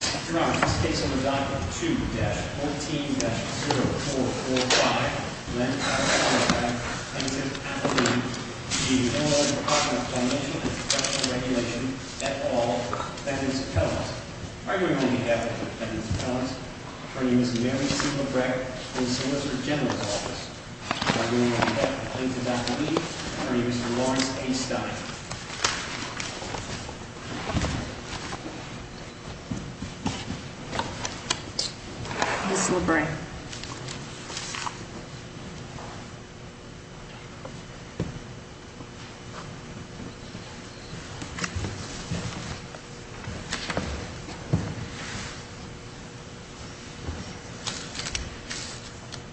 Dr. Roberts, this case under Doctrine 2-14-0445, Lend, Tax, Payback, Penitent, and Fee, is the Illinois Department of Criminal Inspection and Regulation, et al., Defendant's Appellant. Arguably, we have a Defendant's Appellant. Her name is Mary C. McBrackett, in the Solicitor General's Office. Arguably, we have a plaintiff's appealee. Her name is Lawrence A. Stein. Ms. Lebray.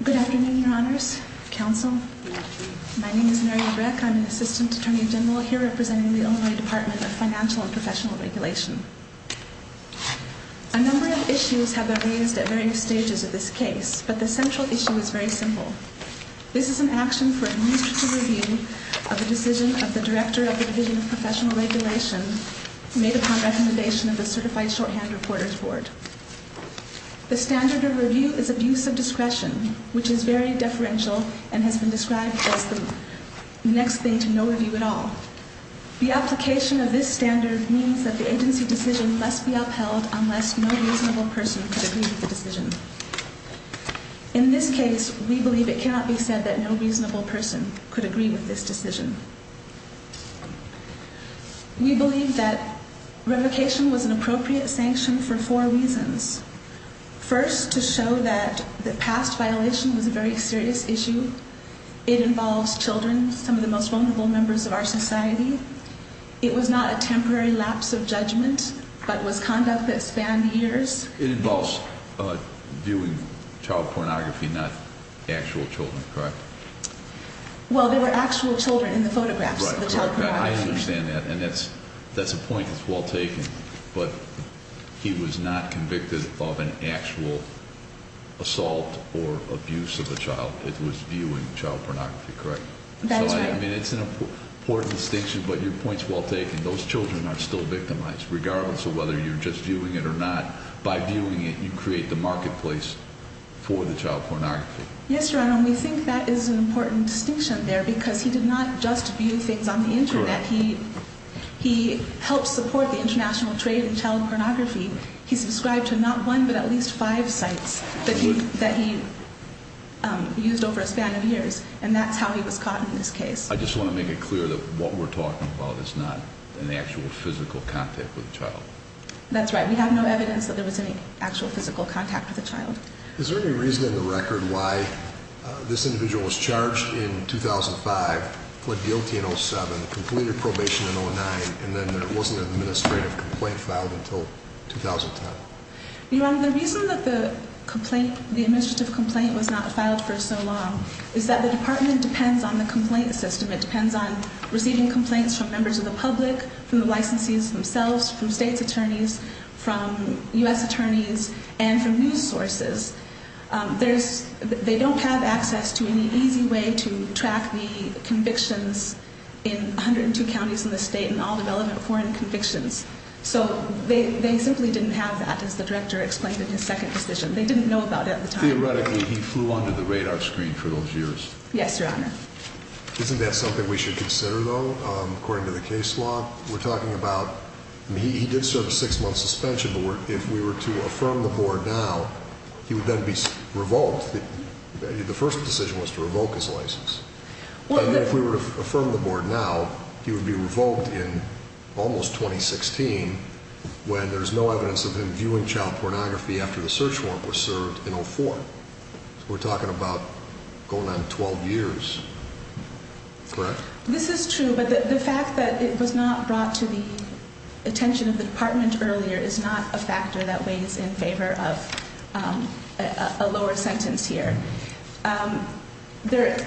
Good afternoon, Your Honors, Counsel. My name is Mary Lebray. I'm an Assistant Attorney General here representing the Illinois Department of Financial and Professional Regulation. A number of issues have been raised at various stages of this case, but the central issue is very simple. This is an action for administrative review of the decision of the Director of the Division of Professional Regulation, made upon recommendation of the Certified Shorthand Reporters Board. The standard of review is abuse of discretion, which is very deferential and has been described as the next thing to no review at all. The application of this standard means that the agency decision must be upheld unless no reasonable person could agree with the decision. In this case, we believe it cannot be said that no reasonable person could agree with this decision. We believe that revocation was an appropriate sanction for four reasons. First, to show that the past violation was a very serious issue. It involves children, some of the most vulnerable members of our society. It was not a temporary lapse of judgment, but was conduct that spanned years. It involves viewing child pornography, not actual children, correct? Well, there were actual children in the photographs of the child pornography. I understand that, and that's a point that's well taken, but he was not convicted of an actual assault or abuse of a child. It was viewing child pornography, correct? That's right. I mean, it's an important distinction, but your point's well taken. Those children are still victimized, regardless of whether you're just viewing it or not. By viewing it, you create the marketplace for the child pornography. Yes, Your Honor, and we think that is an important distinction there because he did not just view things on the Internet. He helped support the international trade in child pornography. He subscribed to not one but at least five sites that he used over a span of years, and that's how he was caught in this case. I just want to make it clear that what we're talking about is not an actual physical contact with a child. That's right. We have no evidence that there was any actual physical contact with a child. Is there any reason in the record why this individual was charged in 2005, plead guilty in 2007, completed probation in 2009, and then there wasn't an administrative complaint filed until 2010? Your Honor, the reason that the administrative complaint was not filed for so long is that the department depends on the complaint system. It depends on receiving complaints from members of the public, from the licensees themselves, from state's attorneys, from U.S. attorneys, and from news sources. They don't have access to any easy way to track the convictions in 102 counties in the state and all the relevant foreign convictions. So they simply didn't have that, as the Director explained in his second decision. They didn't know about it at the time. Theoretically, he flew under the radar screen for those years. Yes, Your Honor. Isn't that something we should consider, though, according to the case law? He did serve a six-month suspension, but if we were to affirm the board now, he would then be revoked. The first decision was to revoke his license. If we were to affirm the board now, he would be revoked in almost 2016 when there's no evidence of him viewing child pornography after the search warrant was served in 2004. We're talking about going on 12 years, correct? This is true, but the fact that it was not brought to the attention of the Department earlier is not a factor that weighs in favor of a lower sentence here. There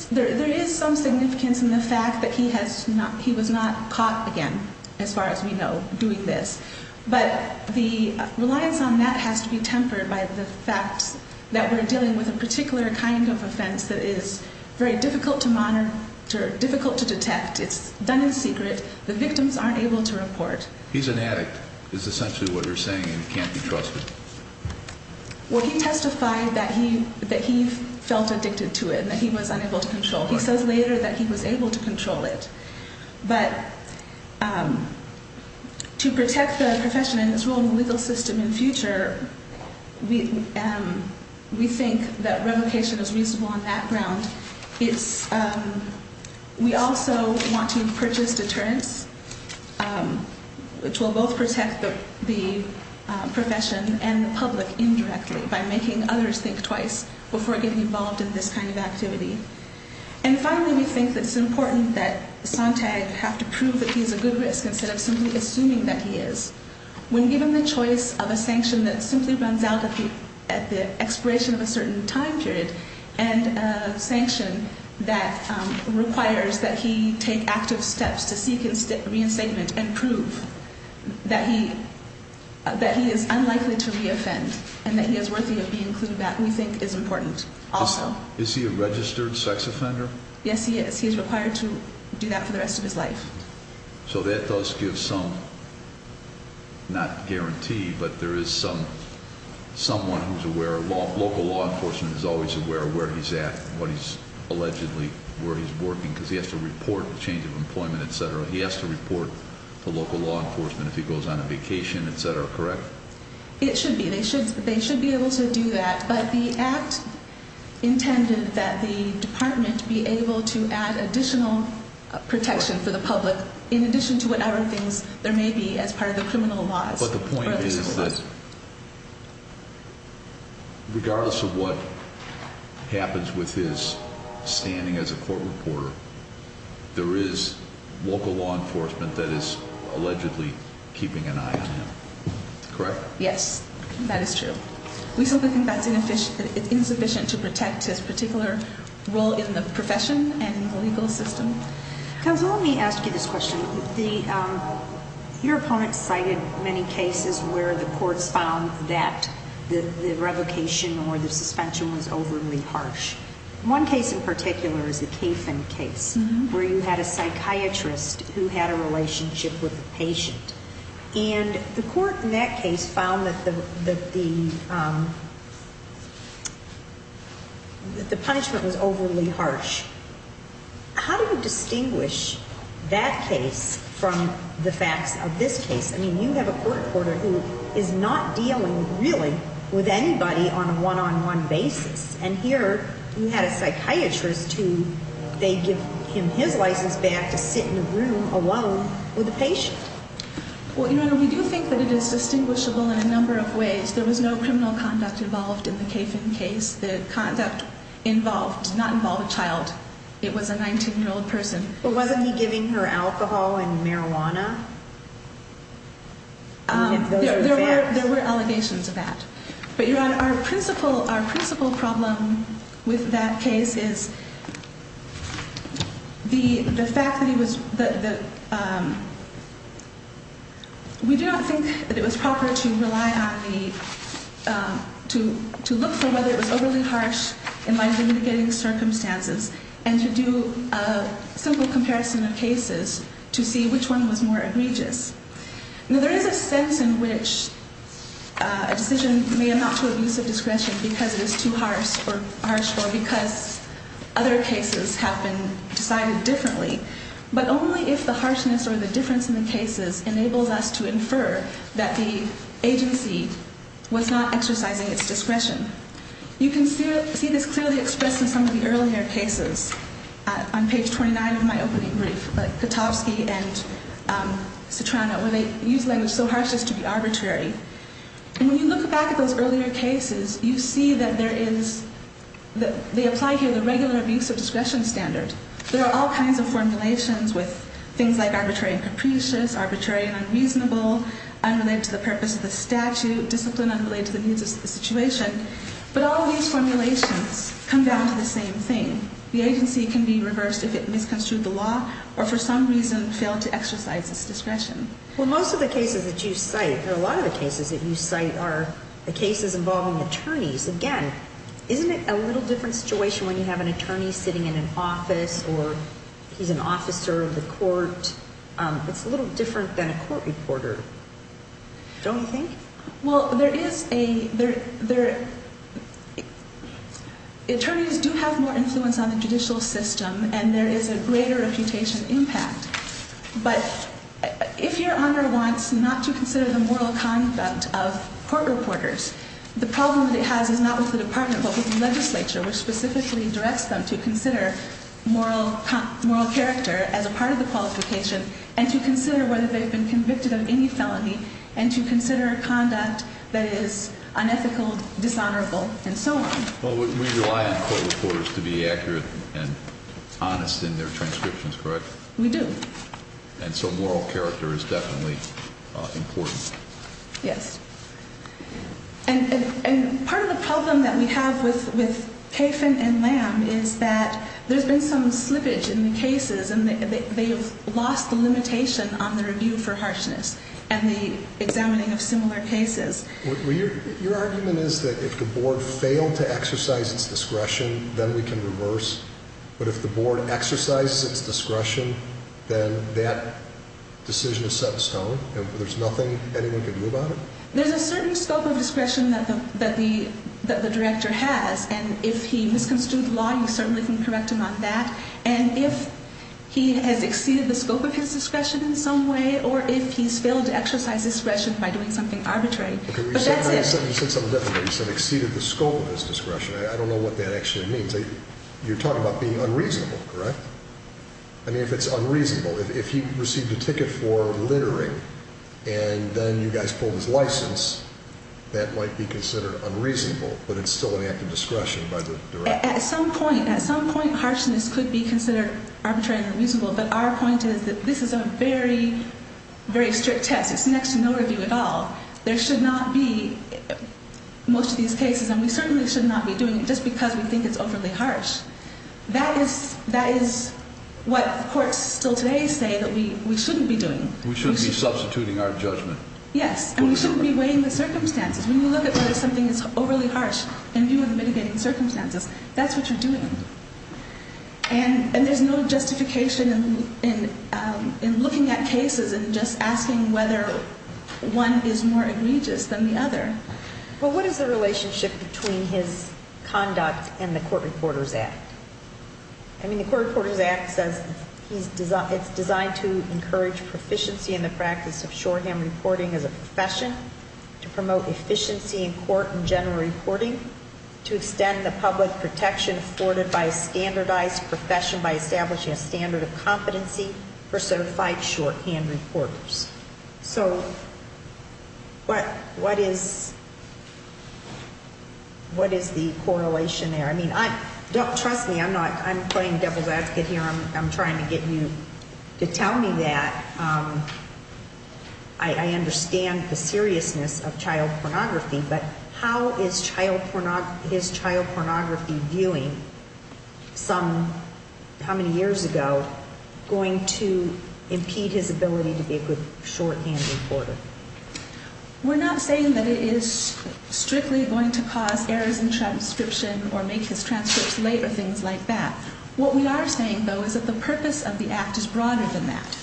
is some significance in the fact that he was not caught again, as far as we know, doing this. But the reliance on that has to be tempered by the fact that we're dealing with a particular kind of offense that is very difficult to monitor, difficult to detect. It's done in secret. The victims aren't able to report. He's an addict, is essentially what you're saying, and he can't be trusted. Well, he testified that he felt addicted to it and that he was unable to control it. He says later that he was able to control it. But to protect the profession and its role in the legal system in the future, we think that revocation is reasonable on that ground. We also want to purchase deterrents, which will both protect the profession and the public indirectly by making others think twice before getting involved in this kind of activity. And finally, we think that it's important that Sontag have to prove that he's a good risk instead of simply assuming that he is. When given the choice of a sanction that simply runs out at the expiration of a certain time period, and a sanction that requires that he take active steps to seek reinstatement and prove that he is unlikely to reoffend and that he is worthy of being included back, we think is important also. Is he a registered sex offender? Yes, he is. He is required to do that for the rest of his life. So that does give some, not guarantee, but there is someone who's aware, local law enforcement is always aware of where he's at, what he's allegedly, where he's working, because he has to report the change of employment, etc. He has to report to local law enforcement if he goes on a vacation, etc., correct? It should be. They should be able to do that. But the act intended that the department be able to add additional protection for the public in addition to whatever things there may be as part of the criminal laws. But the point is that regardless of what happens with his standing as a court reporter, there is local law enforcement that is allegedly keeping an eye on him, correct? Yes, that is true. We simply think that's insufficient to protect his particular role in the profession and legal system. Counsel, let me ask you this question. Your opponent cited many cases where the courts found that the revocation or the suspension was overly harsh. One case in particular is the Kaifen case, where you had a psychiatrist who had a relationship with a patient. And the court in that case found that the punishment was overly harsh. How do you distinguish that case from the facts of this case? I mean, you have a court reporter who is not dealing really with anybody on a one-on-one basis. And here, you had a psychiatrist who they give him his license back to sit in a room alone with a patient. Well, Your Honor, we do think that it is distinguishable in a number of ways. There was no criminal conduct involved in the Kaifen case. The conduct involved did not involve a child. It was a 19-year-old person. But wasn't he giving her alcohol and marijuana? There were allegations of that. But, Your Honor, our principal problem with that case is the fact that he was – we do not think that it was proper to rely on the – to look for whether it was overly harsh in light of the mitigating circumstances and to do a simple comparison of cases to see which one was more egregious. Now, there is a sense in which a decision may amount to abusive discretion because it is too harsh or because other cases have been decided differently. But only if the harshness or the difference in the cases enables us to infer that the agency was not exercising its discretion. You can see this clearly expressed in some of the earlier cases on page 29 of my opening brief, like Kotowski and Citrano, where they use language so harsh as to be arbitrary. And when you look back at those earlier cases, you see that there is – they apply here the regular abuse of discretion standard. There are all kinds of formulations with things like arbitrary and capricious, arbitrary and unreasonable, unrelated to the purpose of the statute, discipline unrelated to the needs of the situation. But all of these formulations come down to the same thing. The agency can be reversed if it misconstrued the law or for some reason failed to exercise its discretion. Well, most of the cases that you cite, or a lot of the cases that you cite, are the cases involving attorneys. Again, isn't it a little different situation when you have an attorney sitting in an office or he's an officer of the court? It's a little different than a court reporter, don't you think? Well, there is a – attorneys do have more influence on the judicial system and there is a greater reputation impact. But if your honor wants not to consider the moral conduct of court reporters, the problem that it has is not with the department but with the legislature, which specifically directs them to consider moral character as a part of the qualification and to consider whether they've been convicted of any felony and to consider conduct that is unethical, dishonorable, and so on. Well, we rely on court reporters to be accurate and honest in their transcriptions, correct? We do. And so moral character is definitely important. Yes. And part of the problem that we have with Kafin and Lamb is that there's been some slippage in the cases and they've lost the limitation on the review for harshness and the examining of similar cases. Your argument is that if the board failed to exercise its discretion, then we can reverse, but if the board exercises its discretion, then that decision is set in stone and there's nothing anyone can do about it? There's a certain scope of discretion that the director has, and if he misconstrued the law, you certainly can correct him on that. And if he has exceeded the scope of his discretion in some way or if he's failed to exercise discretion by doing something arbitrary, but that's it. You said something different there. You said exceeded the scope of his discretion. I don't know what that actually means. You're talking about being unreasonable, correct? I mean, if it's unreasonable. If he received a ticket for littering and then you guys pulled his license, that might be considered unreasonable, but it's still an act of discretion by the director. At some point, harshness could be considered arbitrary and unreasonable, but our point is that this is a very, very strict test. It's next to no review at all. There should not be most of these cases, and we certainly should not be doing it just because we think it's overly harsh. That is what courts still today say that we shouldn't be doing. We shouldn't be substituting our judgment. Yes, and we shouldn't be weighing the circumstances. When you look at whether something is overly harsh in view of the mitigating circumstances, that's what you're doing. And there's no justification in looking at cases and just asking whether one is more egregious than the other. Well, what is the relationship between his conduct and the Court Reporters Act? I mean, the Court Reporters Act says it's designed to encourage proficiency in the practice of shorthand reporting as a profession, to promote efficiency in court and general reporting, to extend the public protection afforded by a standardized profession by establishing a standard of competency for certified shorthand reporters. So what is the correlation there? I mean, trust me, I'm not playing devil's advocate here. I'm trying to get you to tell me that. I understand the seriousness of child pornography, but how is child pornography viewing some, how many years ago, going to impede his ability to be a good shorthand reporter? We're not saying that it is strictly going to cause errors in transcription or make his transcripts late or things like that. What we are saying, though, is that the purpose of the Act is broader than that.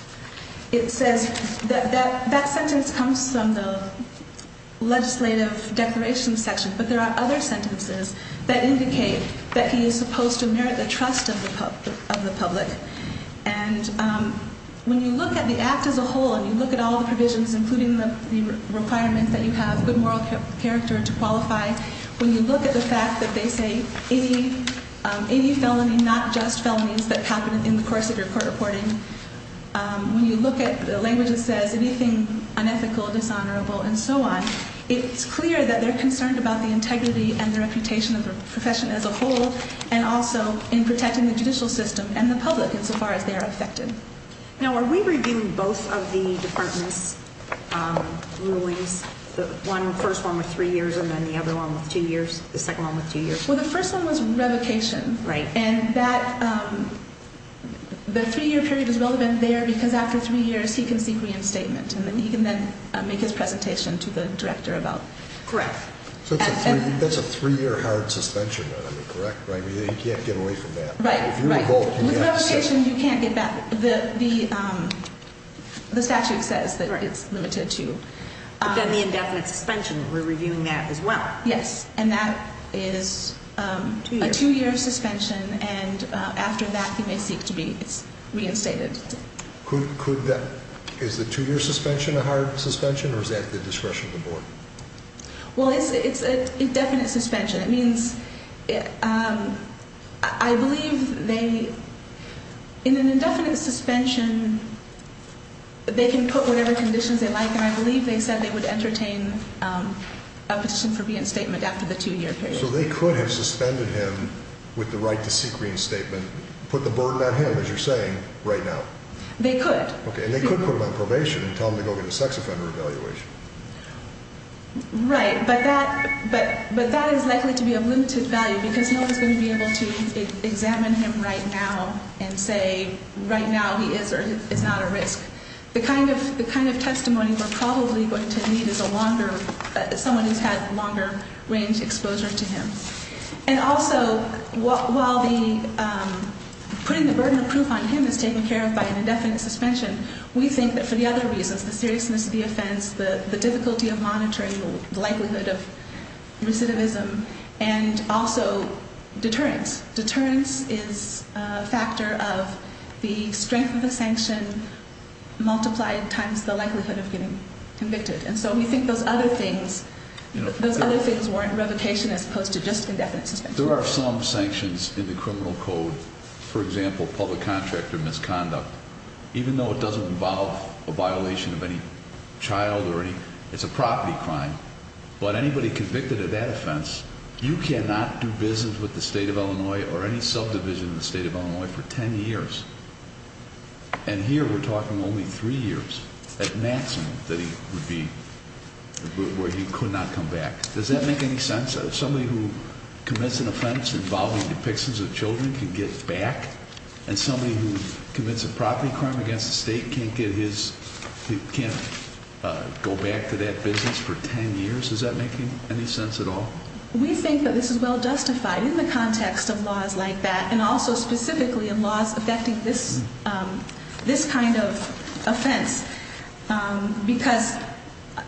It says, that sentence comes from the legislative declaration section, but there are other sentences that indicate that he is supposed to merit the trust of the public. And when you look at the Act as a whole and you look at all the provisions, including the requirement that you have good moral character to qualify, when you look at the fact that they say any felony, not just felonies that happen in the course of your court reporting, when you look at the language that says anything unethical, dishonorable, and so on, it's clear that they're concerned about the integrity and the reputation of the profession as a whole and also in protecting the judicial system and the public insofar as they are affected. Now, are we reviewing both of the department's rulings? The first one with three years and then the other one with two years? The second one with two years? Well, the first one was revocation. Right. And the three-year period is relevant there because after three years he can seek reinstatement and then he can then make his presentation to the director about it. Correct. So that's a three-year hard suspension, correct? He can't get away from that? Right. With revocation you can't get back. The statute says that it's limited to. But then the indefinite suspension, we're reviewing that as well. Yes, and that is a two-year suspension and after that he may seek to be reinstated. Is the two-year suspension a hard suspension or is that at the discretion of the board? Well, it's an indefinite suspension. It means I believe in an indefinite suspension they can put whatever conditions they like and I believe they said they would entertain a petition for reinstatement after the two-year period. So they could have suspended him with the right to seek reinstatement, put the burden on him, as you're saying, right now? They could. Okay, and they could put him on probation and tell him to go get a sex offender evaluation. Right, but that is likely to be of limited value because no one is going to be able to examine him right now and say right now he is or is not a risk. The kind of testimony we're probably going to need is someone who's had longer range exposure to him. And also while putting the burden of proof on him is taken care of by an indefinite suspension, we think that for the other reasons, the seriousness of the offense, the difficulty of monitoring, the likelihood of recidivism, and also deterrence. Deterrence is a factor of the strength of the sanction multiplied times the likelihood of getting convicted. And so we think those other things warrant revocation as opposed to just indefinite suspension. There are some sanctions in the criminal code, for example, public contract or misconduct. Even though it doesn't involve a violation of any child or any, it's a property crime, but anybody convicted of that offense, you cannot do business with the state of Illinois or any subdivision in the state of Illinois for 10 years. And here we're talking only three years at maximum that he would be, where he could not come back. Does that make any sense? Somebody who commits an offense involving depictions of children can get back? And somebody who commits a property crime against the state can't get his, can't go back to that business for 10 years? Does that make any sense at all? We think that this is well justified in the context of laws like that and also specifically in laws affecting this kind of offense. Because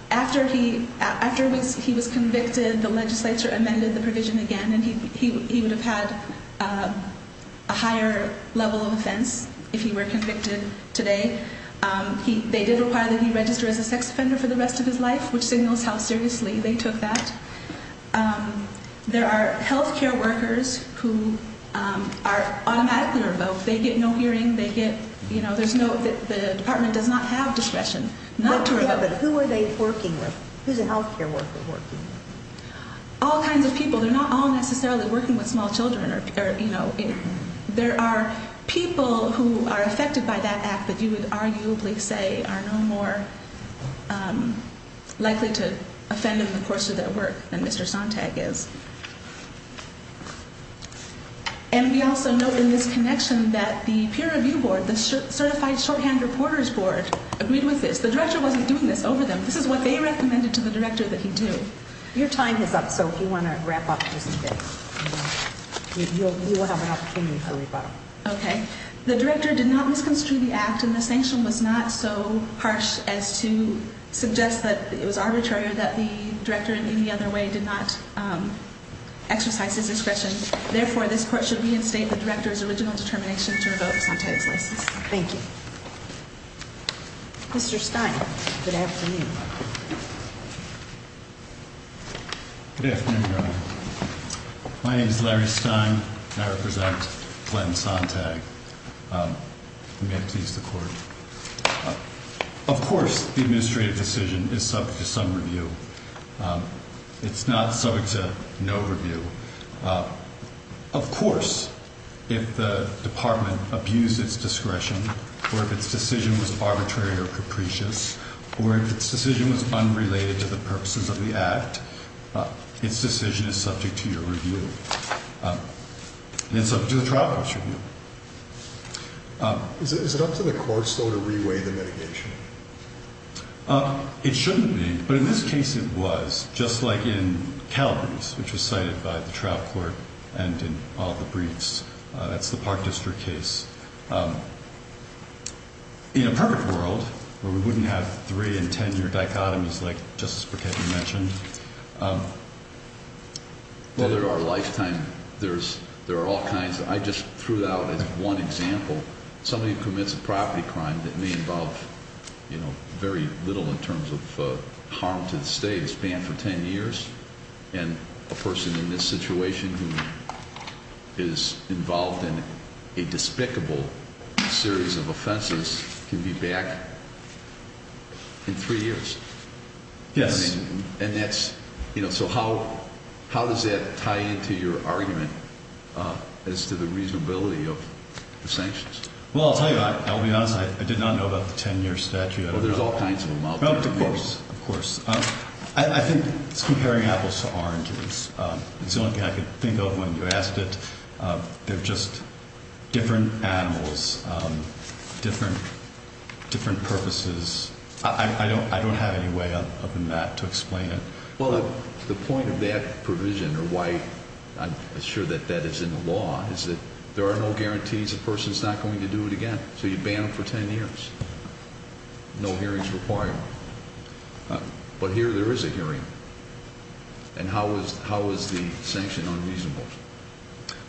after he was convicted, the legislature amended the provision again, and he would have had a higher level of offense if he were convicted today. They did require that he register as a sex offender for the rest of his life, which signals how seriously they took that. There are health care workers who are automatically revoked. They get no hearing. They get, you know, there's no, the department does not have discretion not to revoke. Yeah, but who are they working with? Who's a health care worker working with? All kinds of people. They're not all necessarily working with small children or, you know, there are people who are affected by that act, but you would arguably say are no more likely to offend in the course of their work than Mr. Sontag is. And we also note in this connection that the peer review board, the certified shorthand reporters board, agreed with this. The director wasn't doing this over them. This is what they recommended to the director that he do. Your time is up, so if you want to wrap up, you will have an opportunity for a rebuttal. Okay. The director did not misconstrue the act, and the sanction was not so harsh as to suggest that it was arbitrary or that the director, in any other way, did not exercise his discretion. Therefore, this court should reinstate the director's original determination to revoke Sontag's license. Thank you. Mr. Stein, good afternoon. Good afternoon, Your Honor. My name is Larry Stein, and I represent Glenn Sontag. May it please the court. Of course, the administrative decision is subject to some review. It's not subject to no review. Of course, if the department abused its discretion or if its decision was arbitrary or capricious or if its decision was unrelated to the purposes of the act, its decision is subject to your review. And it's subject to the trial court's review. Is it up to the court, still, to reweigh the mitigation? It shouldn't be, but in this case it was, just like in Calabrese, which was cited by the trial court and in all the briefs. That's the Park District case. In a perfect world, where we wouldn't have three- and ten-year dichotomies like Justice Burkett mentioned... Well, there are all kinds. I just threw it out as one example. Somebody who commits a property crime that may involve very little in terms of harm to the state, is banned for ten years, and a person in this situation who is involved in a despicable series of offenses can be back in three years. Yes. And that's, you know, so how does that tie into your argument as to the reasonability of the sanctions? Well, I'll tell you, I'll be honest, I did not know about the ten-year statute. Well, there's all kinds of them out there. Of course, of course. I think it's comparing apples to oranges. It's the only thing I could think of when you asked it. They're just different animals, different purposes. I don't have any way other than that to explain it. Well, the point of that provision, or why I'm sure that that is in the law, is that there are no guarantees a person's not going to do it again. So you ban them for ten years. No hearings required. But here there is a hearing. And how is the sanction unreasonable?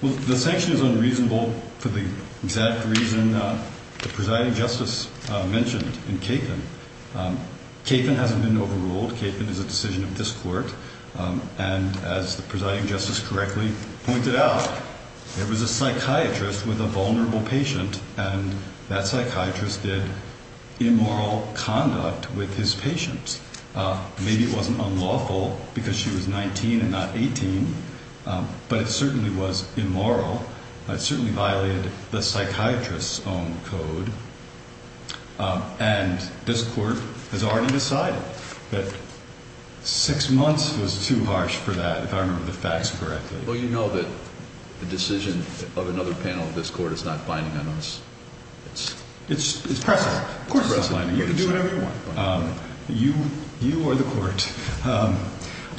Well, the sanction is unreasonable for the exact reason the presiding justice mentioned in Kaifen. Kaifen hasn't been overruled. Kaifen is a decision of this court. And as the presiding justice correctly pointed out, there was a psychiatrist with a vulnerable patient, and that psychiatrist did immoral conduct with his patient. Maybe it wasn't unlawful because she was 19 and not 18, but it certainly was immoral. It certainly violated the psychiatrist's own code. And this court has already decided that six months was too harsh for that, if I remember the facts correctly. Well, you know that the decision of another panel of this court is not binding on us. It's pressing. Of course it's pressing. You can do whatever you want. You are the court.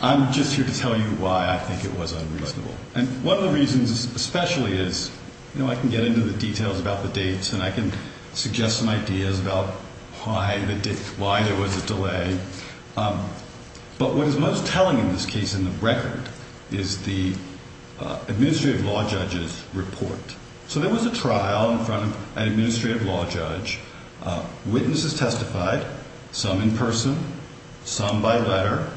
I'm just here to tell you why I think it was unreasonable. And one of the reasons especially is, you know, I can get into the details about the dates and I can suggest some ideas about why there was a delay. But what is most telling in this case in the record is the administrative law judge's report. So there was a trial in front of an administrative law judge. Witnesses testified, some in person, some by letter.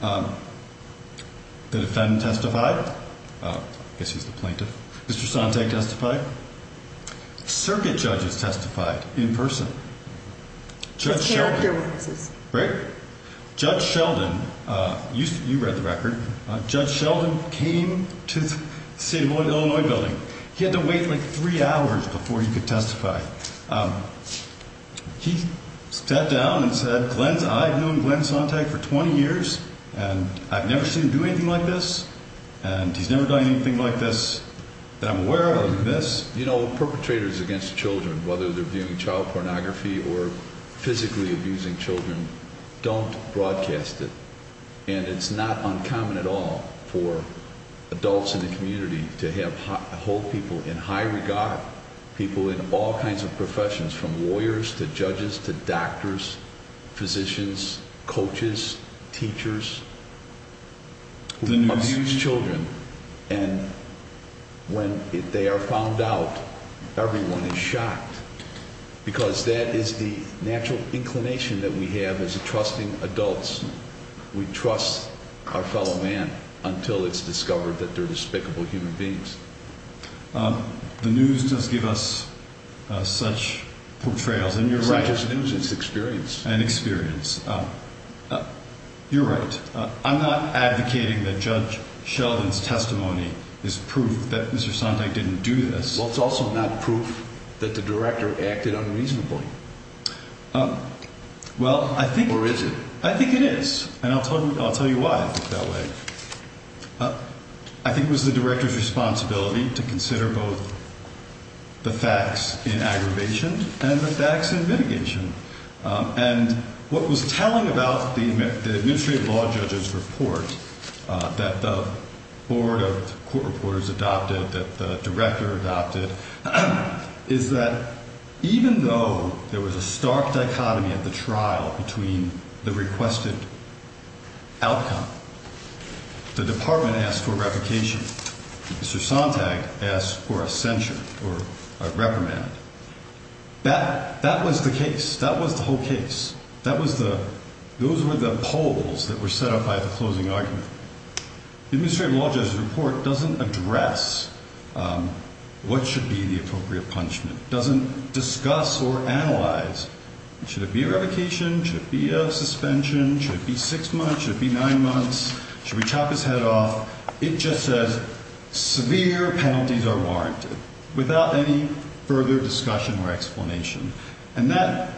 The defendant testified. I guess he was the plaintiff. Mr. Sontag testified. Circuit judges testified in person. Judge Sheldon, you read the record. Judge Sheldon came to the state of Illinois building. He had to wait like three hours before he could testify. He sat down and said, Glenn, I've known Glenn Sontag for 20 years and I've never seen him do anything like this. And he's never done anything like this that I'm aware of like this. You know, perpetrators against children, whether they're doing child pornography or physically abusing children, don't broadcast it. And it's not uncommon at all for adults in the community to hold people in high regard, people in all kinds of professions, from lawyers to judges to doctors, physicians, coaches, teachers, who abuse children. And when they are found out, everyone is shocked because that is the natural inclination that we have as trusting adults. We trust our fellow man until it's discovered that they're despicable human beings. The news does give us such portrayals, and you're right. It's not just news, it's experience. And experience. You're right. I'm not advocating that Judge Sheldon's testimony is proof that Mr. Sontag didn't do this. Well, it's also not proof that the director acted unreasonably. Well, I think... Or is it? I think it is. And I'll tell you why I think that way. I think it was the director's responsibility to consider both the facts in aggravation and the facts in mitigation. And what was telling about the administrative law judge's report that the board of court reporters adopted, that the director adopted, is that even though there was a stark dichotomy at the trial between the requested outcome, the department asked for revocation, Mr. Sontag asked for a censure or a reprimand, that was the case. That was the whole case. That was the... Those were the poles that were set up by the closing argument. The administrative law judge's report doesn't address what should be the appropriate punishment. It doesn't discuss or analyze. Should it be a revocation? Should it be a suspension? Should it be six months? Should it be nine months? Should we chop his head off? It just says severe penalties are warranted without any further discussion or explanation. And that,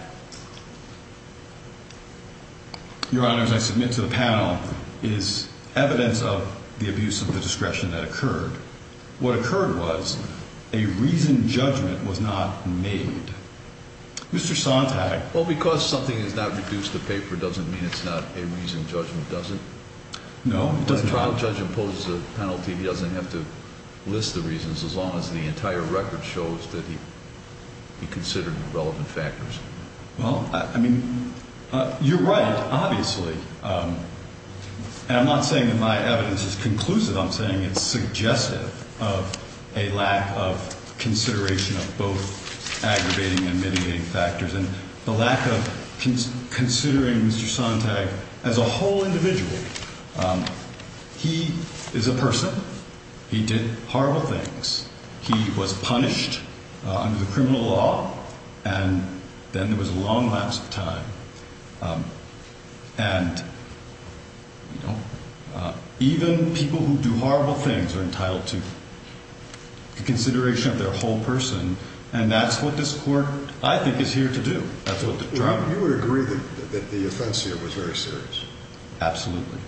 Your Honors, I submit to the panel, is evidence of the abuse of the discretion that occurred. What occurred was a reasoned judgment was not made. Mr. Sontag... Just because something is not reduced to paper doesn't mean it's not a reasoned judgment, does it? No. When a trial judge imposes a penalty, he doesn't have to list the reasons, as long as the entire record shows that he considered the relevant factors. Well, I mean, you're right, obviously. And I'm not saying that my evidence is conclusive. I'm saying it's suggestive of a lack of consideration of both aggravating and mitigating factors. And the lack of considering Mr. Sontag as a whole individual. He is a person. He did horrible things. He was punished under the criminal law. And then there was a long lapse of time. And, you know, even people who do horrible things are entitled to consideration of their whole person. And that's what this Court, I think, is here to do. That's what the trial... You would agree that the offense here was very serious? Absolutely.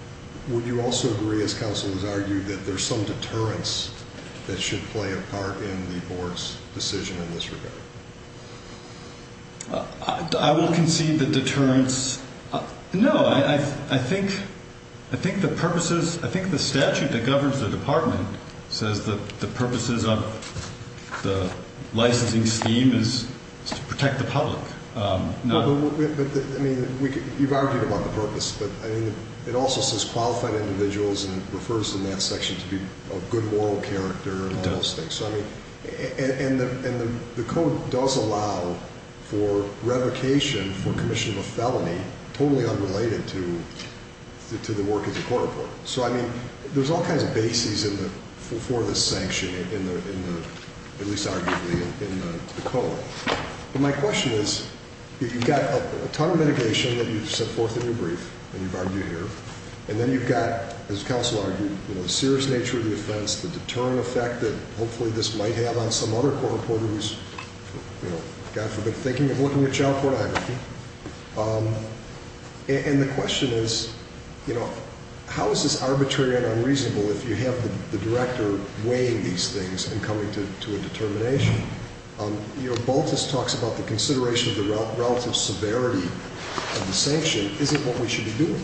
Would you also agree, as counsel has argued, that there's some deterrence that should play a part in the Court's decision in this regard? I won't concede the deterrence. No. I think the purposes... I think the statute that governs the Department says that the purposes of the licensing scheme is to protect the public. No. But, I mean, you've argued about the purpose. But, I mean, it also says qualified individuals, and it refers in that section to be of good moral character and all those things. And the Code does allow for revocation for commission of a felony totally unrelated to the work as a court reporter. So, I mean, there's all kinds of bases for this sanction, at least arguably, in the Code. But my question is, you've got a ton of mitigation that you've set forth in your brief, and you've argued here. And then you've got, as counsel argued, the serious nature of the offense, the deterring effect that hopefully this might have on some other court reporter who's, God forbid, thinking of looking at child pornography. And the question is, you know, how is this arbitrary and unreasonable if you have the Director weighing these things and coming to a determination? You know, Baltus talks about the consideration of the relative severity of the sanction isn't what we should be doing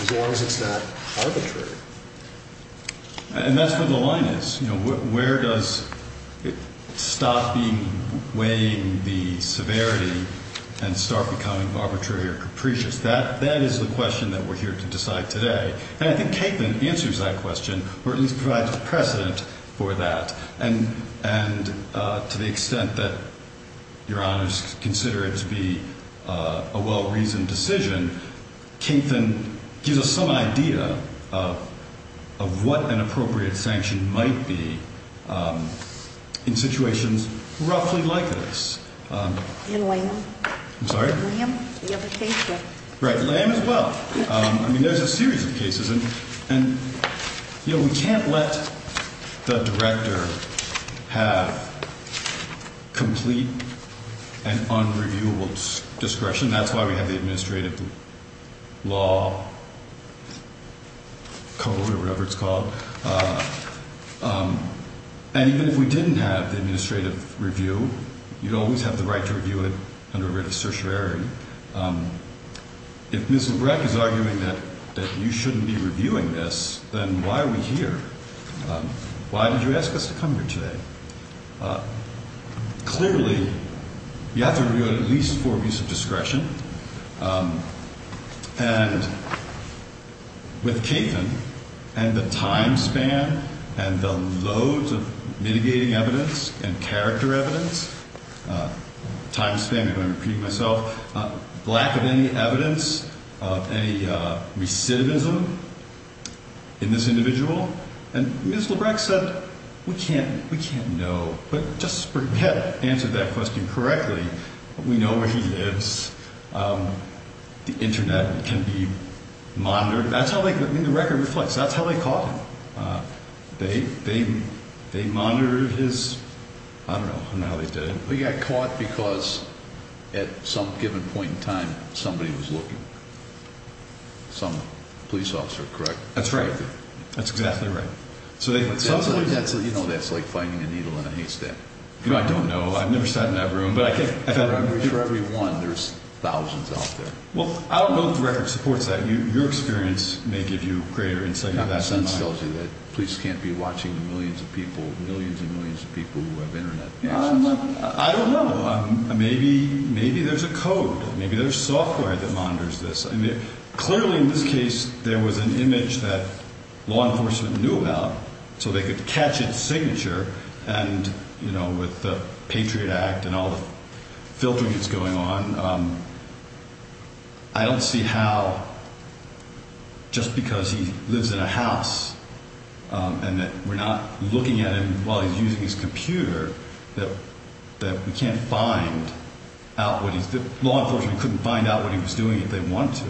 as long as it's not arbitrary. And that's where the line is. You know, where does it stop being weighing the severity and start becoming arbitrary or capricious? That is the question that we're here to decide today. And I think Kaitlyn answers that question or at least provides a precedent for that. And to the extent that Your Honors consider it to be a well-reasoned decision, Kaitlyn gives us some idea of what an appropriate sanction might be in situations roughly like this. In Lamb? I'm sorry? Lamb, the other case. Right, Lamb as well. I mean, there's a series of cases. And, you know, we can't let the Director have complete and unreviewable discretion. That's why we have the Administrative Law Code or whatever it's called. And even if we didn't have the administrative review, you'd always have the right to review it under a writ of certiorari. If Ms. Lebrecht is arguing that you shouldn't be reviewing this, then why are we here? Why did you ask us to come here today? Clearly, you have to review it at least for abuse of discretion. And with Kaitlyn and the time span and the loads of mitigating evidence and character evidence, time span, if I'm repeating myself, lack of any evidence of any recidivism in this individual. And Ms. Lebrecht said, we can't know. But Justice Byrd had answered that question correctly. We know where he lives. The Internet can be monitored. That's how they, I mean, the record reflects. That's how they caught him. They monitored his, I don't know, I don't know how they did it. He got caught because at some given point in time, somebody was looking. Some police officer, correct? That's right. That's exactly right. You know, that's like finding a needle in a haystack. I don't know. I've never sat in that room. But I think for every one, there's thousands out there. Well, I don't know if the record supports that. Your experience may give you greater insight into that. It tells you that police can't be watching millions of people, millions and millions of people who have Internet access. I don't know. Maybe there's a code. Maybe there's software that monitors this. Clearly, in this case, there was an image that law enforcement knew about so they could catch its signature. And, you know, with the Patriot Act and all the filtering that's going on, I don't see how just because he lives in a house and that we're not looking at him while he's using his computer that we can't find out what he's doing. Law enforcement couldn't find out what he was doing if they want to.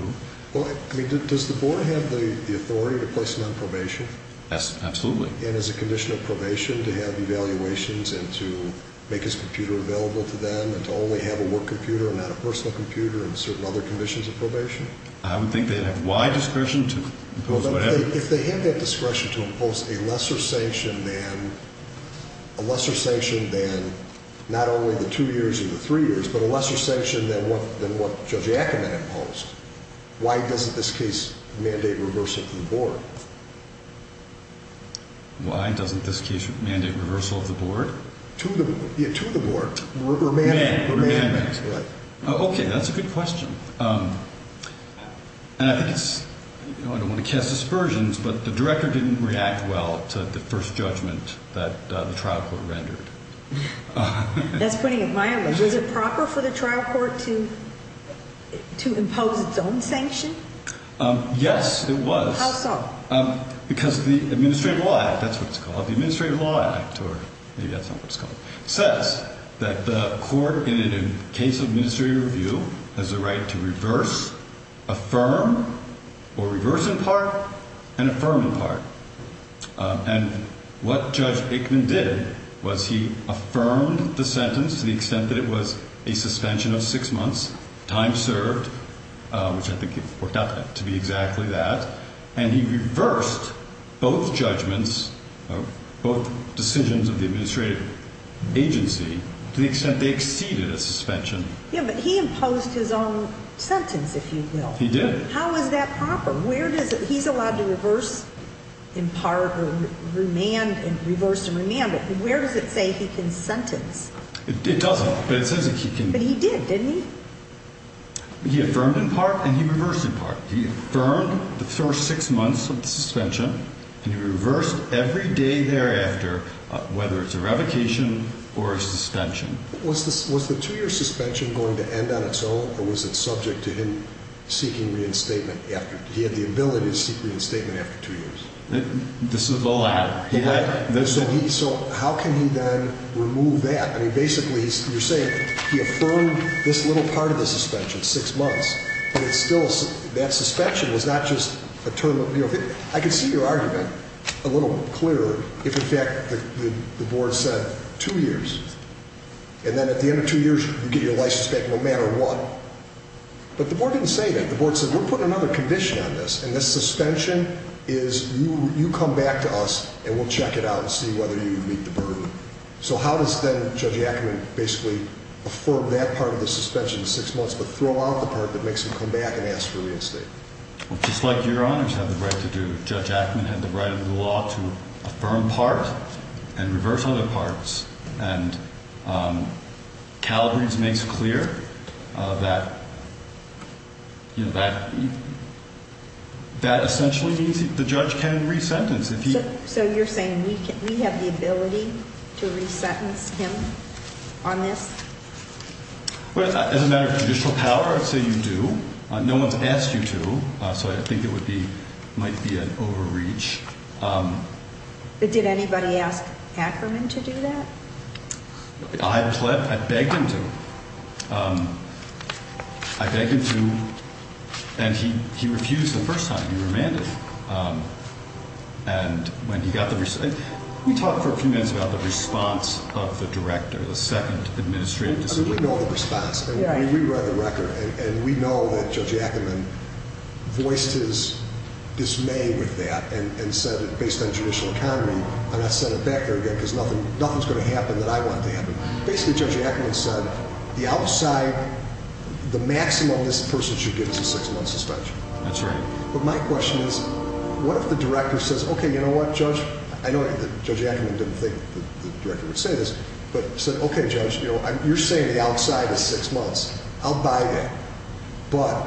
Well, I mean, does the board have the authority to place him on probation? Absolutely. And as a condition of probation to have evaluations and to make his computer available to them and to only have a work computer and not a personal computer and certain other conditions of probation? I don't think they'd have wide discretion to impose whatever. If they had that discretion to impose a lesser sanction than not only the two years or the three years, but a lesser sanction than what Judge Ackerman imposed, why doesn't this case mandate reversal of the board? Why doesn't this case mandate reversal of the board? To the board. Or mandate. Okay, that's a good question. And I think it's, you know, I don't want to cast aspersions, but the director didn't react well to the first judgment that the trial court rendered. That's putting it mildly. Was it proper for the trial court to impose its own sanction? Yes, it was. How so? Because the Administrative Law Act, that's what it's called, the Administrative Law Act, or maybe that's not what it's called, says that the court in a case of administrative review has the right to reverse, affirm, or reverse in part, and affirm in part. And what Judge Ackerman did was he affirmed the sentence to the extent that it was a suspension of six months, time served, which I think it worked out to be exactly that, and he reversed both judgments, both decisions of the administrative agency, to the extent they exceeded a suspension. Yeah, but he imposed his own sentence, if you will. He did. How is that proper? He's allowed to reverse in part or reverse and remand, but where does it say he can sentence? It doesn't, but it says he can. But he did, didn't he? He affirmed in part and he reversed in part. He affirmed the first six months of the suspension, and he reversed every day thereafter, whether it's a revocation or a suspension. Was the two-year suspension going to end on its own, or was it subject to him seeking reinstatement after? He had the ability to seek reinstatement after two years. This is the latter. The latter. So how can he then remove that? I mean, basically, you're saying he affirmed this little part of the suspension, six months, and it's still a suspension. I can see your argument a little clearer if, in fact, the board said two years, and then at the end of two years, you get your license back no matter what. But the board didn't say that. The board said, we're putting another condition on this, and the suspension is you come back to us and we'll check it out and see whether you meet the burden. So how does then Judge Ackerman basically affirm that part of the suspension, six months, but throw out the part that makes him come back and ask for reinstatement? Well, just like your honors have the right to do, Judge Ackerman had the right under the law to affirm part and reverse other parts. And Calabrese makes clear that, you know, that essentially means the judge can re-sentence. So you're saying we have the ability to re-sentence him on this? As a matter of judicial power, I'd say you do. No one's asked you to, so I think it might be an overreach. But did anybody ask Ackerman to do that? I begged him to. I begged him to, and he refused the first time. He remanded. And when he got the result, we talked for a few minutes about the response of the director, the second administrative discipline. I mean, we know the response. I mean, we read the record, and we know that Judge Ackerman voiced his dismay with that and said it based on judicial power. And I said it back there again because nothing's going to happen that I want to happen. Basically, Judge Ackerman said the outside, the maximum this person should get is a six-month suspension. That's right. But my question is, what if the director says, okay, you know what, Judge? I know Judge Ackerman didn't think the director would say this, but said, okay, Judge, you're saying the outside is six months. I'll buy that. But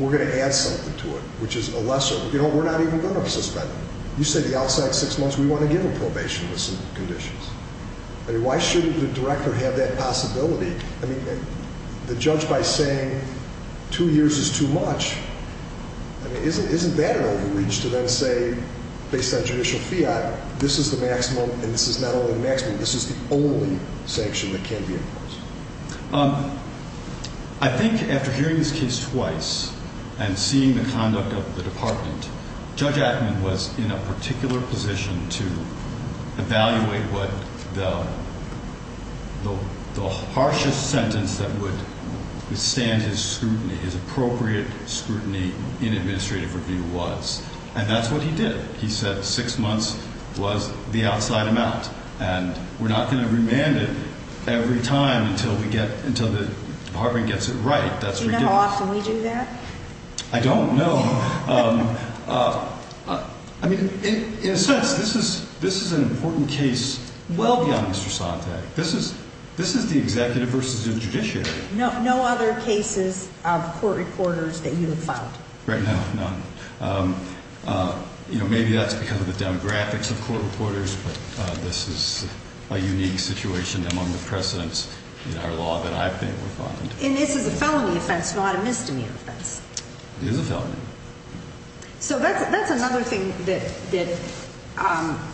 we're going to add something to it, which is a lesser. You know, we're not even going to suspend him. You said the outside's six months. We want to give him probation with some conditions. I mean, why shouldn't the director have that possibility? I mean, the judge, by saying two years is too much, I mean, isn't that an overreach to then say, based on judicial fiat, this is the maximum and this is not only the maximum, this is the only sanction that can be enforced? I think after hearing this case twice and seeing the conduct of the department, Judge Ackerman was in a particular position to evaluate what the harshest sentence that would withstand his scrutiny, his appropriate scrutiny in administrative review was. And that's what he did. He said six months was the outside amount. And we're not going to remand it every time until the department gets it right. Do you know how often we do that? I don't know. I mean, in a sense, this is an important case well beyond Mr. Sontag. This is the executive versus the judiciary. No other cases of court reporters that you have filed? Right now, none. You know, maybe that's because of the demographics of court reporters, but this is a unique situation among the precedents in our law that I've been able to find. And this is a felony offense, not a misdemeanor offense. It is a felony. So that's another thing that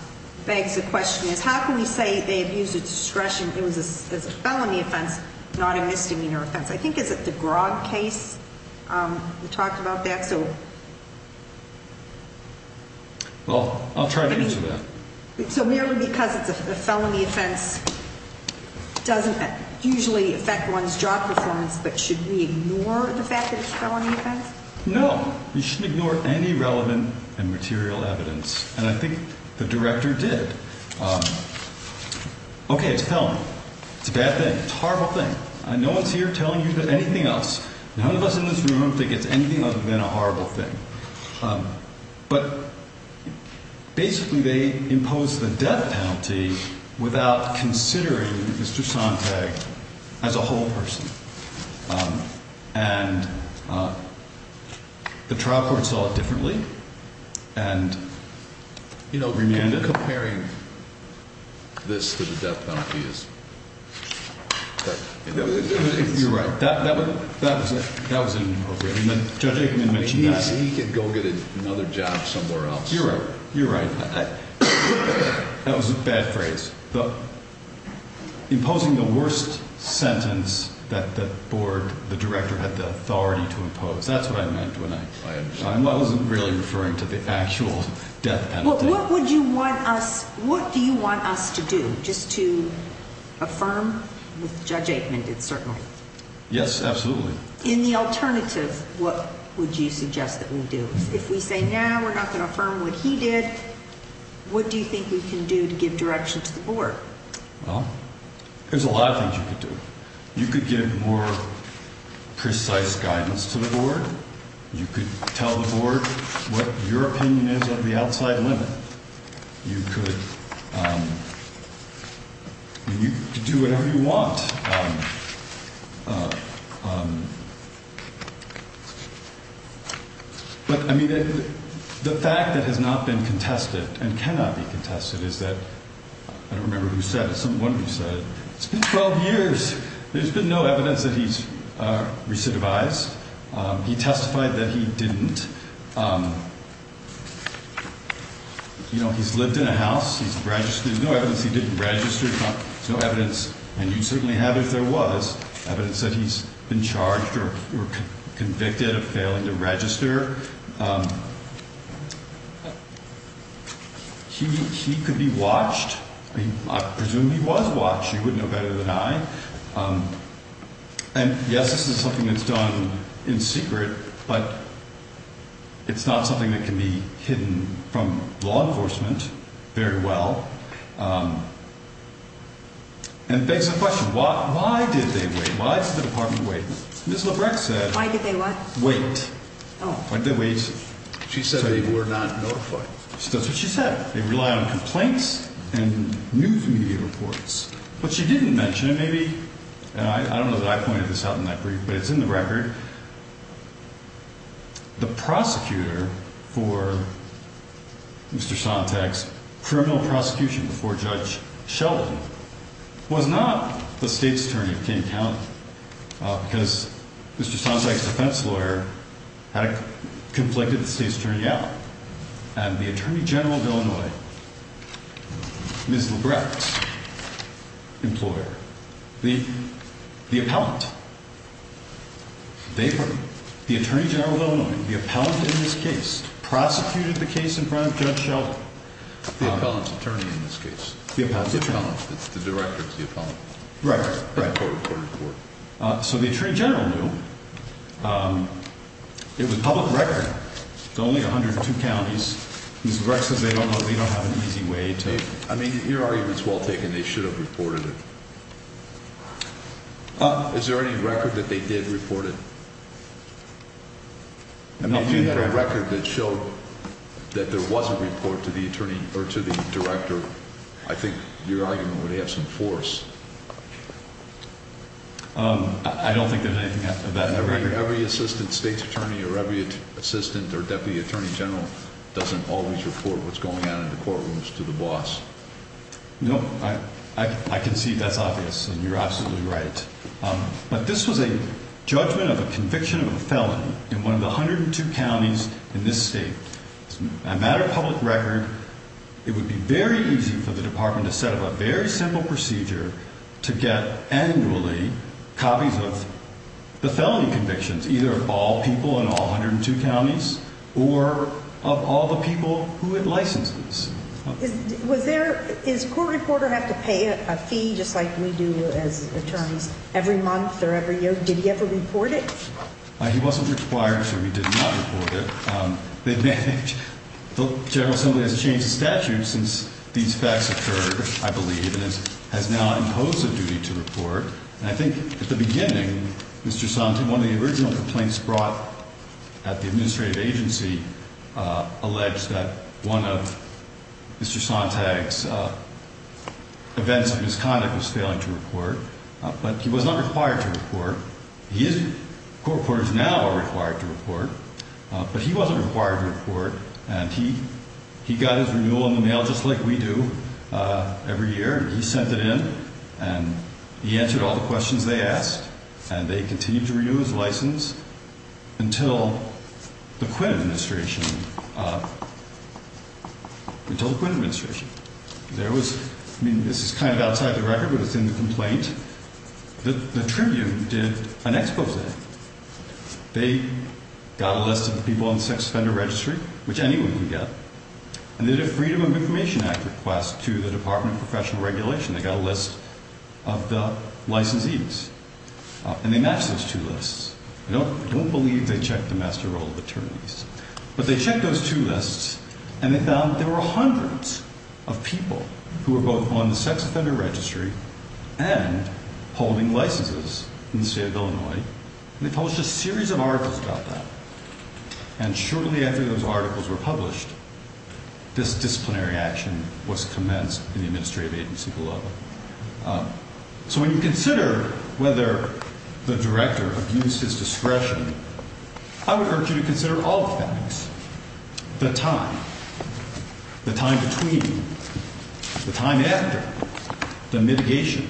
begs the question is how can we say they abused the discretion? It was a felony offense, not a misdemeanor offense. I think is it the Grog case? We talked about that. Well, I'll try to answer that. So merely because it's a felony offense doesn't usually affect one's job performance, but should we ignore the fact that it's a felony offense? No. You shouldn't ignore any relevant and material evidence. And I think the director did. Okay, it's a felony. It's a bad thing. It's a horrible thing. No one's here telling you anything else. None of us in this room think it's anything other than a horrible thing. But basically they imposed the death penalty without considering Mr. Sontag as a whole person. And the trial court saw it differently and, you know, remanded. You're comparing this to the death penalty. You're right. That was inappropriate. Judge Aikman mentioned that. I mean, he could go get another job somewhere else. You're right. You're right. That was a bad phrase. Imposing the worst sentence that the board, the director, had the authority to impose. That's what I meant when I— I understand. I wasn't really referring to the actual death penalty. What would you want us—what do you want us to do just to affirm what Judge Aikman did, certainly? Yes, absolutely. In the alternative, what would you suggest that we do? If we say, no, we're not going to affirm what he did, what do you think we can do to give direction to the board? Well, there's a lot of things you could do. You could give more precise guidance to the board. You could tell the board what your opinion is of the outside limit. You could do whatever you want. But, I mean, the fact that has not been contested and cannot be contested is that—I don't remember who said it. Someone said it. It's been 12 years. There's been no evidence that he's recidivized. He testified that he didn't. You know, he's lived in a house. He's registered. There's no evidence he didn't register. There's no evidence, and you'd certainly have if there was, evidence that he's been charged or convicted of failing to register. He could be watched. I presume he was watched. You would know better than I. And, yes, this is something that's done in secret, but it's not something that can be hidden from law enforcement very well. And it begs the question, why did they wait? Why did the department wait? Ms. Labreck said— Why did they what? Wait. Oh. Why did they wait? She said they were not notified. That's what she said. They rely on complaints and news media reports. But she didn't mention it. Maybe—and I don't know that I pointed this out in that brief, but it's in the record. The prosecutor for Mr. Sontag's criminal prosecution before Judge Sheldon was not the state's attorney of King County, because Mr. Sontag's defense lawyer had conflicted with the state's attorney out. And the Attorney General of Illinois, Ms. Labreck's employer, the appellant, they—the Attorney General of Illinois, the appellant in this case, prosecuted the case in front of Judge Sheldon. The appellant's attorney in this case. The appellant's attorney. It's the director. It's the appellant. Right, right. A court-recorded report. So the Attorney General knew. It was a public record. It's only 102 counties. Ms. Labreck says they don't know—they don't have an easy way to— I mean, your argument's well taken. They should have reported it. Is there any record that they did report it? I mean, if you had a record that showed that there was a report to the attorney—or to the director, I think your argument would have some force. I don't think there's anything of that in the record. Every assistant state's attorney or every assistant or deputy attorney general doesn't always report what's going on in the courtrooms to the boss. No, I can see that's obvious, and you're absolutely right. But this was a judgment of a conviction of a felony in one of the 102 counties in this state. It's a matter of public record. It would be very easy for the department to set up a very simple procedure to get annually copies of the felony convictions, either of all people in all 102 counties or of all the people who had licenses. Was there—does a court reporter have to pay a fee, just like we do as attorneys, every month or every year? Did he ever report it? He wasn't required to. He did not report it. The General Assembly has changed the statute since these facts occurred, I believe, and has now imposed a duty to report. And I think at the beginning, Mr. Sontag—one of the original complaints brought at the administrative agency alleged that one of Mr. Sontag's events of misconduct was failing to report, but he was not required to report. He is—court reporters now are required to report, but he wasn't required to report, and he got his renewal in the mail just like we do every year. He sent it in, and he answered all the questions they asked, and they continued to renew his license until the Quinn administration—until the Quinn administration. There was—I mean, this is kind of outside the record, but it's in the complaint. The Tribune did an exposé. They got a list of the people on the sex offender registry, which anyone can get, and they did a Freedom of Information Act request to the Department of Professional Regulation. They got a list of the licensees, and they matched those two lists. I don't believe they checked the master roll of attorneys, but they checked those two lists, and they found that there were hundreds of people who were both on the sex offender registry and holding licenses in the state of Illinois. They published a series of articles about that, and shortly after those articles were published, this disciplinary action was commenced in the administrative agency below. So when you consider whether the director abused his discretion, I would urge you to consider all the factors—the time, the time between, the time after, the mitigation,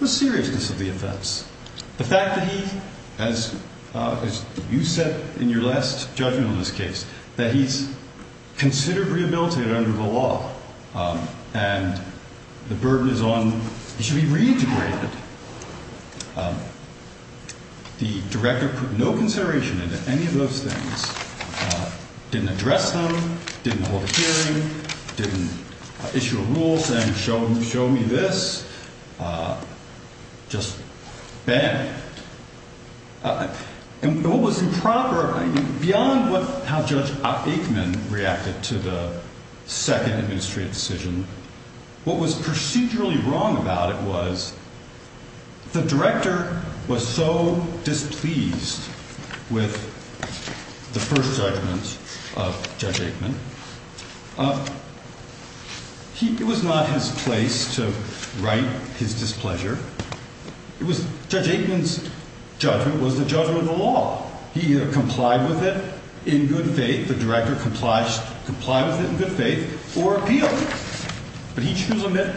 the seriousness of the offense, the fact that he, as you said in your last judgment on this case, that he's considered rehabilitated under the law, and the burden is on—he should be reintegrated. The director put no consideration into any of those things, didn't address them, didn't hold a hearing, didn't issue a rule saying, show me this, just bam. And what was improper, beyond how Judge Aikman reacted to the second administrative decision, what was procedurally wrong about it was the director was so displeased with the first judgment of Judge Aikman, it was not his place to right his displeasure. Judge Aikman's judgment was the judgment of the law. He either complied with it in good faith, the director complied with it in good faith, or appealed. But he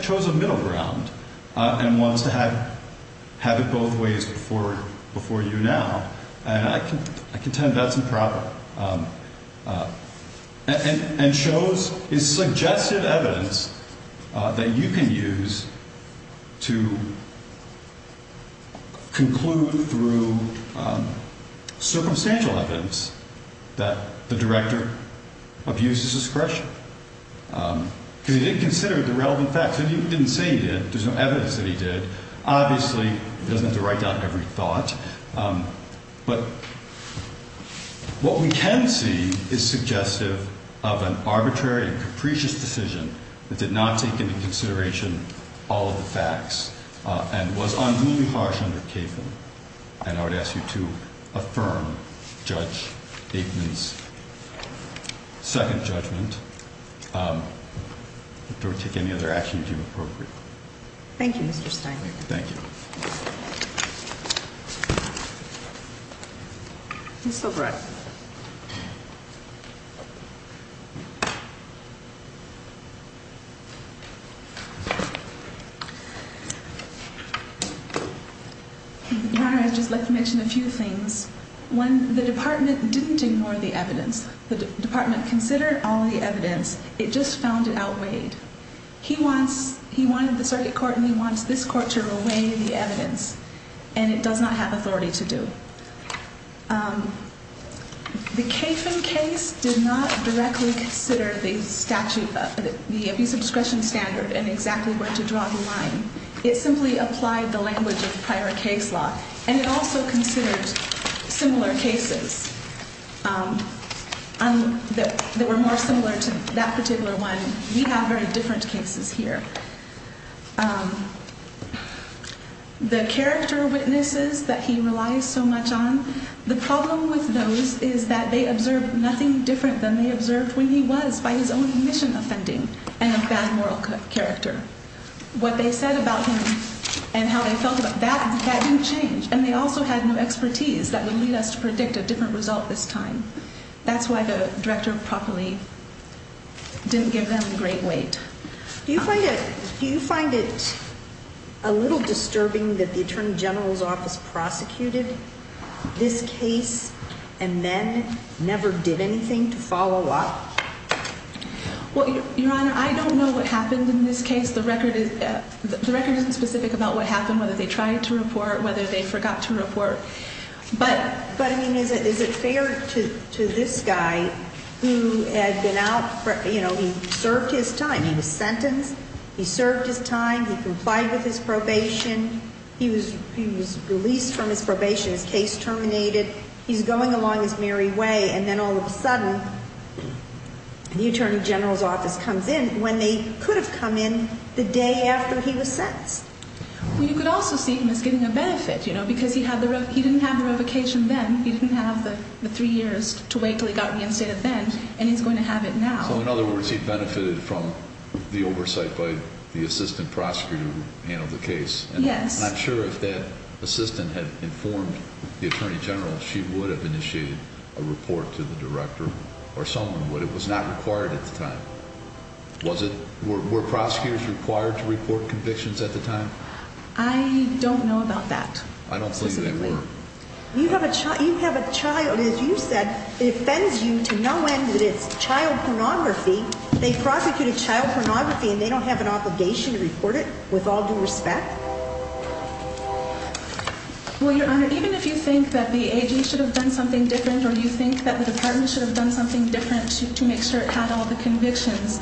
chose a middle ground and wants to have it both ways before you now. And I can tell you that's improper. And shows his suggestive evidence that you can use to conclude through circumstantial evidence that the director abuses discretion. Because he didn't consider the relevant facts. He didn't say he did. There's no evidence that he did. Obviously, he doesn't have to write down every thought. But what we can see is suggestive of an arbitrary and capricious decision that did not take into consideration all of the facts, and was unruly, harsh, and uncapable. And I would ask you to affirm Judge Aikman's second judgment. Thank you, Mr. Steinberg. Thank you. Your Honor, I'd just like to mention a few things. One, the department didn't ignore the evidence. The department considered all the evidence. It just found it outweighed. He wanted the circuit court, and he wants this court to weigh the evidence. And it does not have authority to do. The Kafin case did not directly consider the statute, the abuse of discretion standard, and exactly where to draw the line. It simply applied the language of prior case law. And it also considered similar cases that were more similar to that particular one. We have very different cases here. The character witnesses that he relies so much on, the problem with those is that they observed nothing different than they observed when he was, by his own admission, offending and a bad moral character. What they said about him and how they felt about that, that didn't change. And they also had no expertise that would lead us to predict a different result this time. That's why the director properly didn't give them great weight. Do you find it a little disturbing that the attorney general's office prosecuted this case and then never did anything to follow up? Well, Your Honor, I don't know what happened in this case. The record isn't specific about what happened, whether they tried to report, whether they forgot to report. But, I mean, is it fair to this guy who had been out, you know, he served his time. He was sentenced. He served his time. He complied with his probation. He was released from his probation. His case terminated. He's going along his merry way. And then all of a sudden, the attorney general's office comes in when they could have come in the day after he was sentenced. Well, you could also see him as getting a benefit, you know, because he didn't have the revocation then. He didn't have the three years to wait until he got reinstated then, and he's going to have it now. So, in other words, he benefited from the oversight by the assistant prosecutor who handled the case. Yes. And I'm not sure if that assistant had informed the attorney general she would have initiated a report to the director or someone would. It was not required at the time. Were prosecutors required to report convictions at the time? I don't know about that. I don't believe they were. You have a child. As you said, it offends you to no end that it's child pornography. They prosecuted child pornography, and they don't have an obligation to report it with all due respect? Well, Your Honor, even if you think that the AG should have done something different or you think that the department should have done something different to make sure it had all the convictions,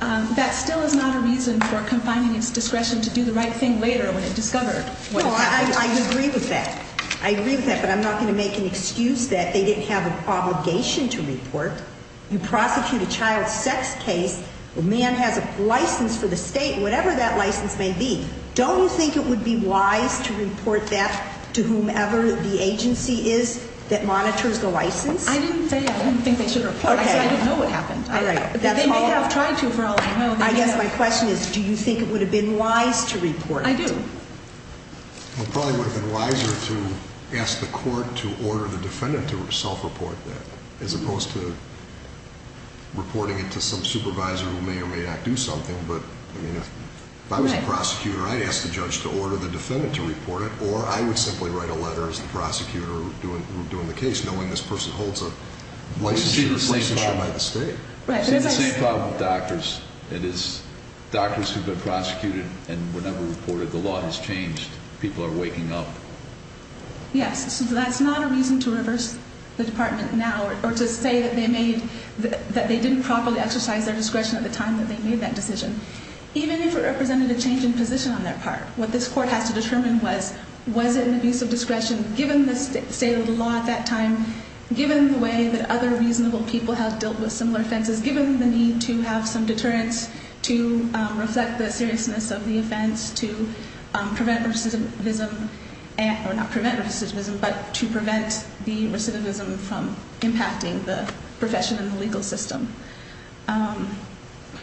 that still is not a reason for confining its discretion to do the right thing later when it discovered what had happened. Well, I agree with that. I agree with that, but I'm not going to make an excuse that they didn't have an obligation to report. You prosecute a child sex case. A man has a license for the state, whatever that license may be. Don't you think it would be wise to report that to whomever the agency is that monitors the license? I didn't say I didn't think they should report it. I said I didn't know what happened. All right. They may have tried to, for all I know. I guess my question is do you think it would have been wise to report it? I do. It probably would have been wiser to ask the court to order the defendant to self-report that, as opposed to reporting it to some supervisor who may or may not do something. But, I mean, if I was a prosecutor, I'd ask the judge to order the defendant to report it, or I would simply write a letter as the prosecutor doing the case, knowing this person holds a licensure by the state. It's the same problem with doctors. It is doctors who've been prosecuted and were never reported. The law has changed. People are waking up. Yes. That's not a reason to reverse the department now or to say that they didn't properly exercise their discretion at the time that they made that decision. Even if it represented a change in position on their part, what this court has to determine was, was it an abuse of discretion given the state of the law at that time, given the way that other reasonable people have dealt with similar offenses, given the need to have some deterrence to reflect the seriousness of the offense to prevent recidivism, or not prevent recidivism, but to prevent the recidivism from impacting the profession and the legal system.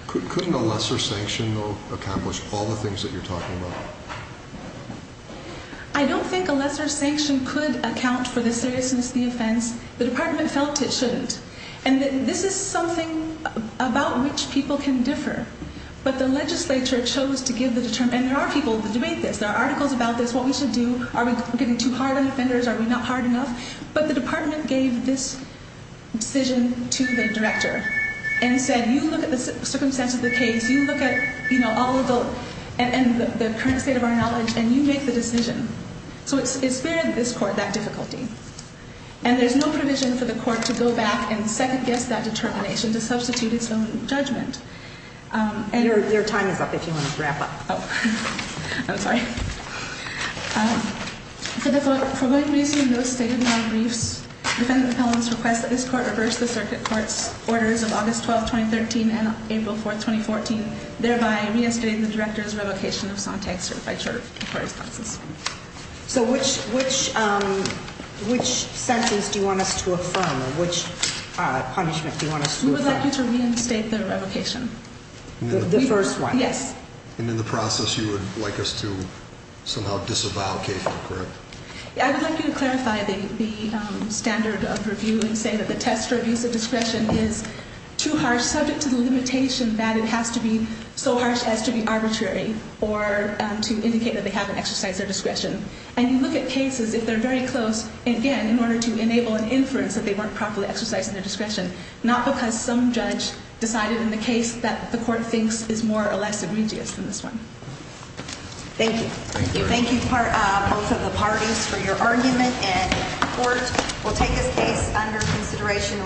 Couldn't a lesser sanction, though, accomplish all the things that you're talking about? I don't think a lesser sanction could account for the seriousness of the offense. The department felt it shouldn't. And this is something about which people can differ. But the legislature chose to give the determination. And there are people that debate this. There are articles about this, what we should do. Are we getting too hard on offenders? Are we not hard enough? But the department gave this decision to the director and said, you look at the circumstance of the case, you look at all of the current state of our knowledge, and you make the decision. So it spared this court that difficulty. And there's no provision for the court to go back and second-guess that determination, to substitute its own judgment. Your time is up if you want to wrap up. Oh. I'm sorry. For good reason, no state of the law briefs. The defendant of the appellant's request that this court reverse the circuit court's orders of August 12, 2013, and April 4, 2014, thereby reinstating the director's revocation of Sontag certified court responses. So which sentence do you want us to affirm? Which punishment do you want us to affirm? We would like you to reinstate the revocation. The first one? Yes. And in the process, you would like us to somehow disavow K-5, correct? I would like you to clarify the standard of review and say that the test for abuse of discretion is too harsh, subject to the limitation that it has to be so harsh as to be arbitrary or to indicate that they haven't exercised their discretion. And you look at cases, if they're very close, again, in order to enable an inference that they weren't properly exercising their discretion, not because some judge decided in the case that the court thinks is more or less egregious than this one. Thank you. Thank you, both of the parties, for your argument. And the court will take this case under consideration.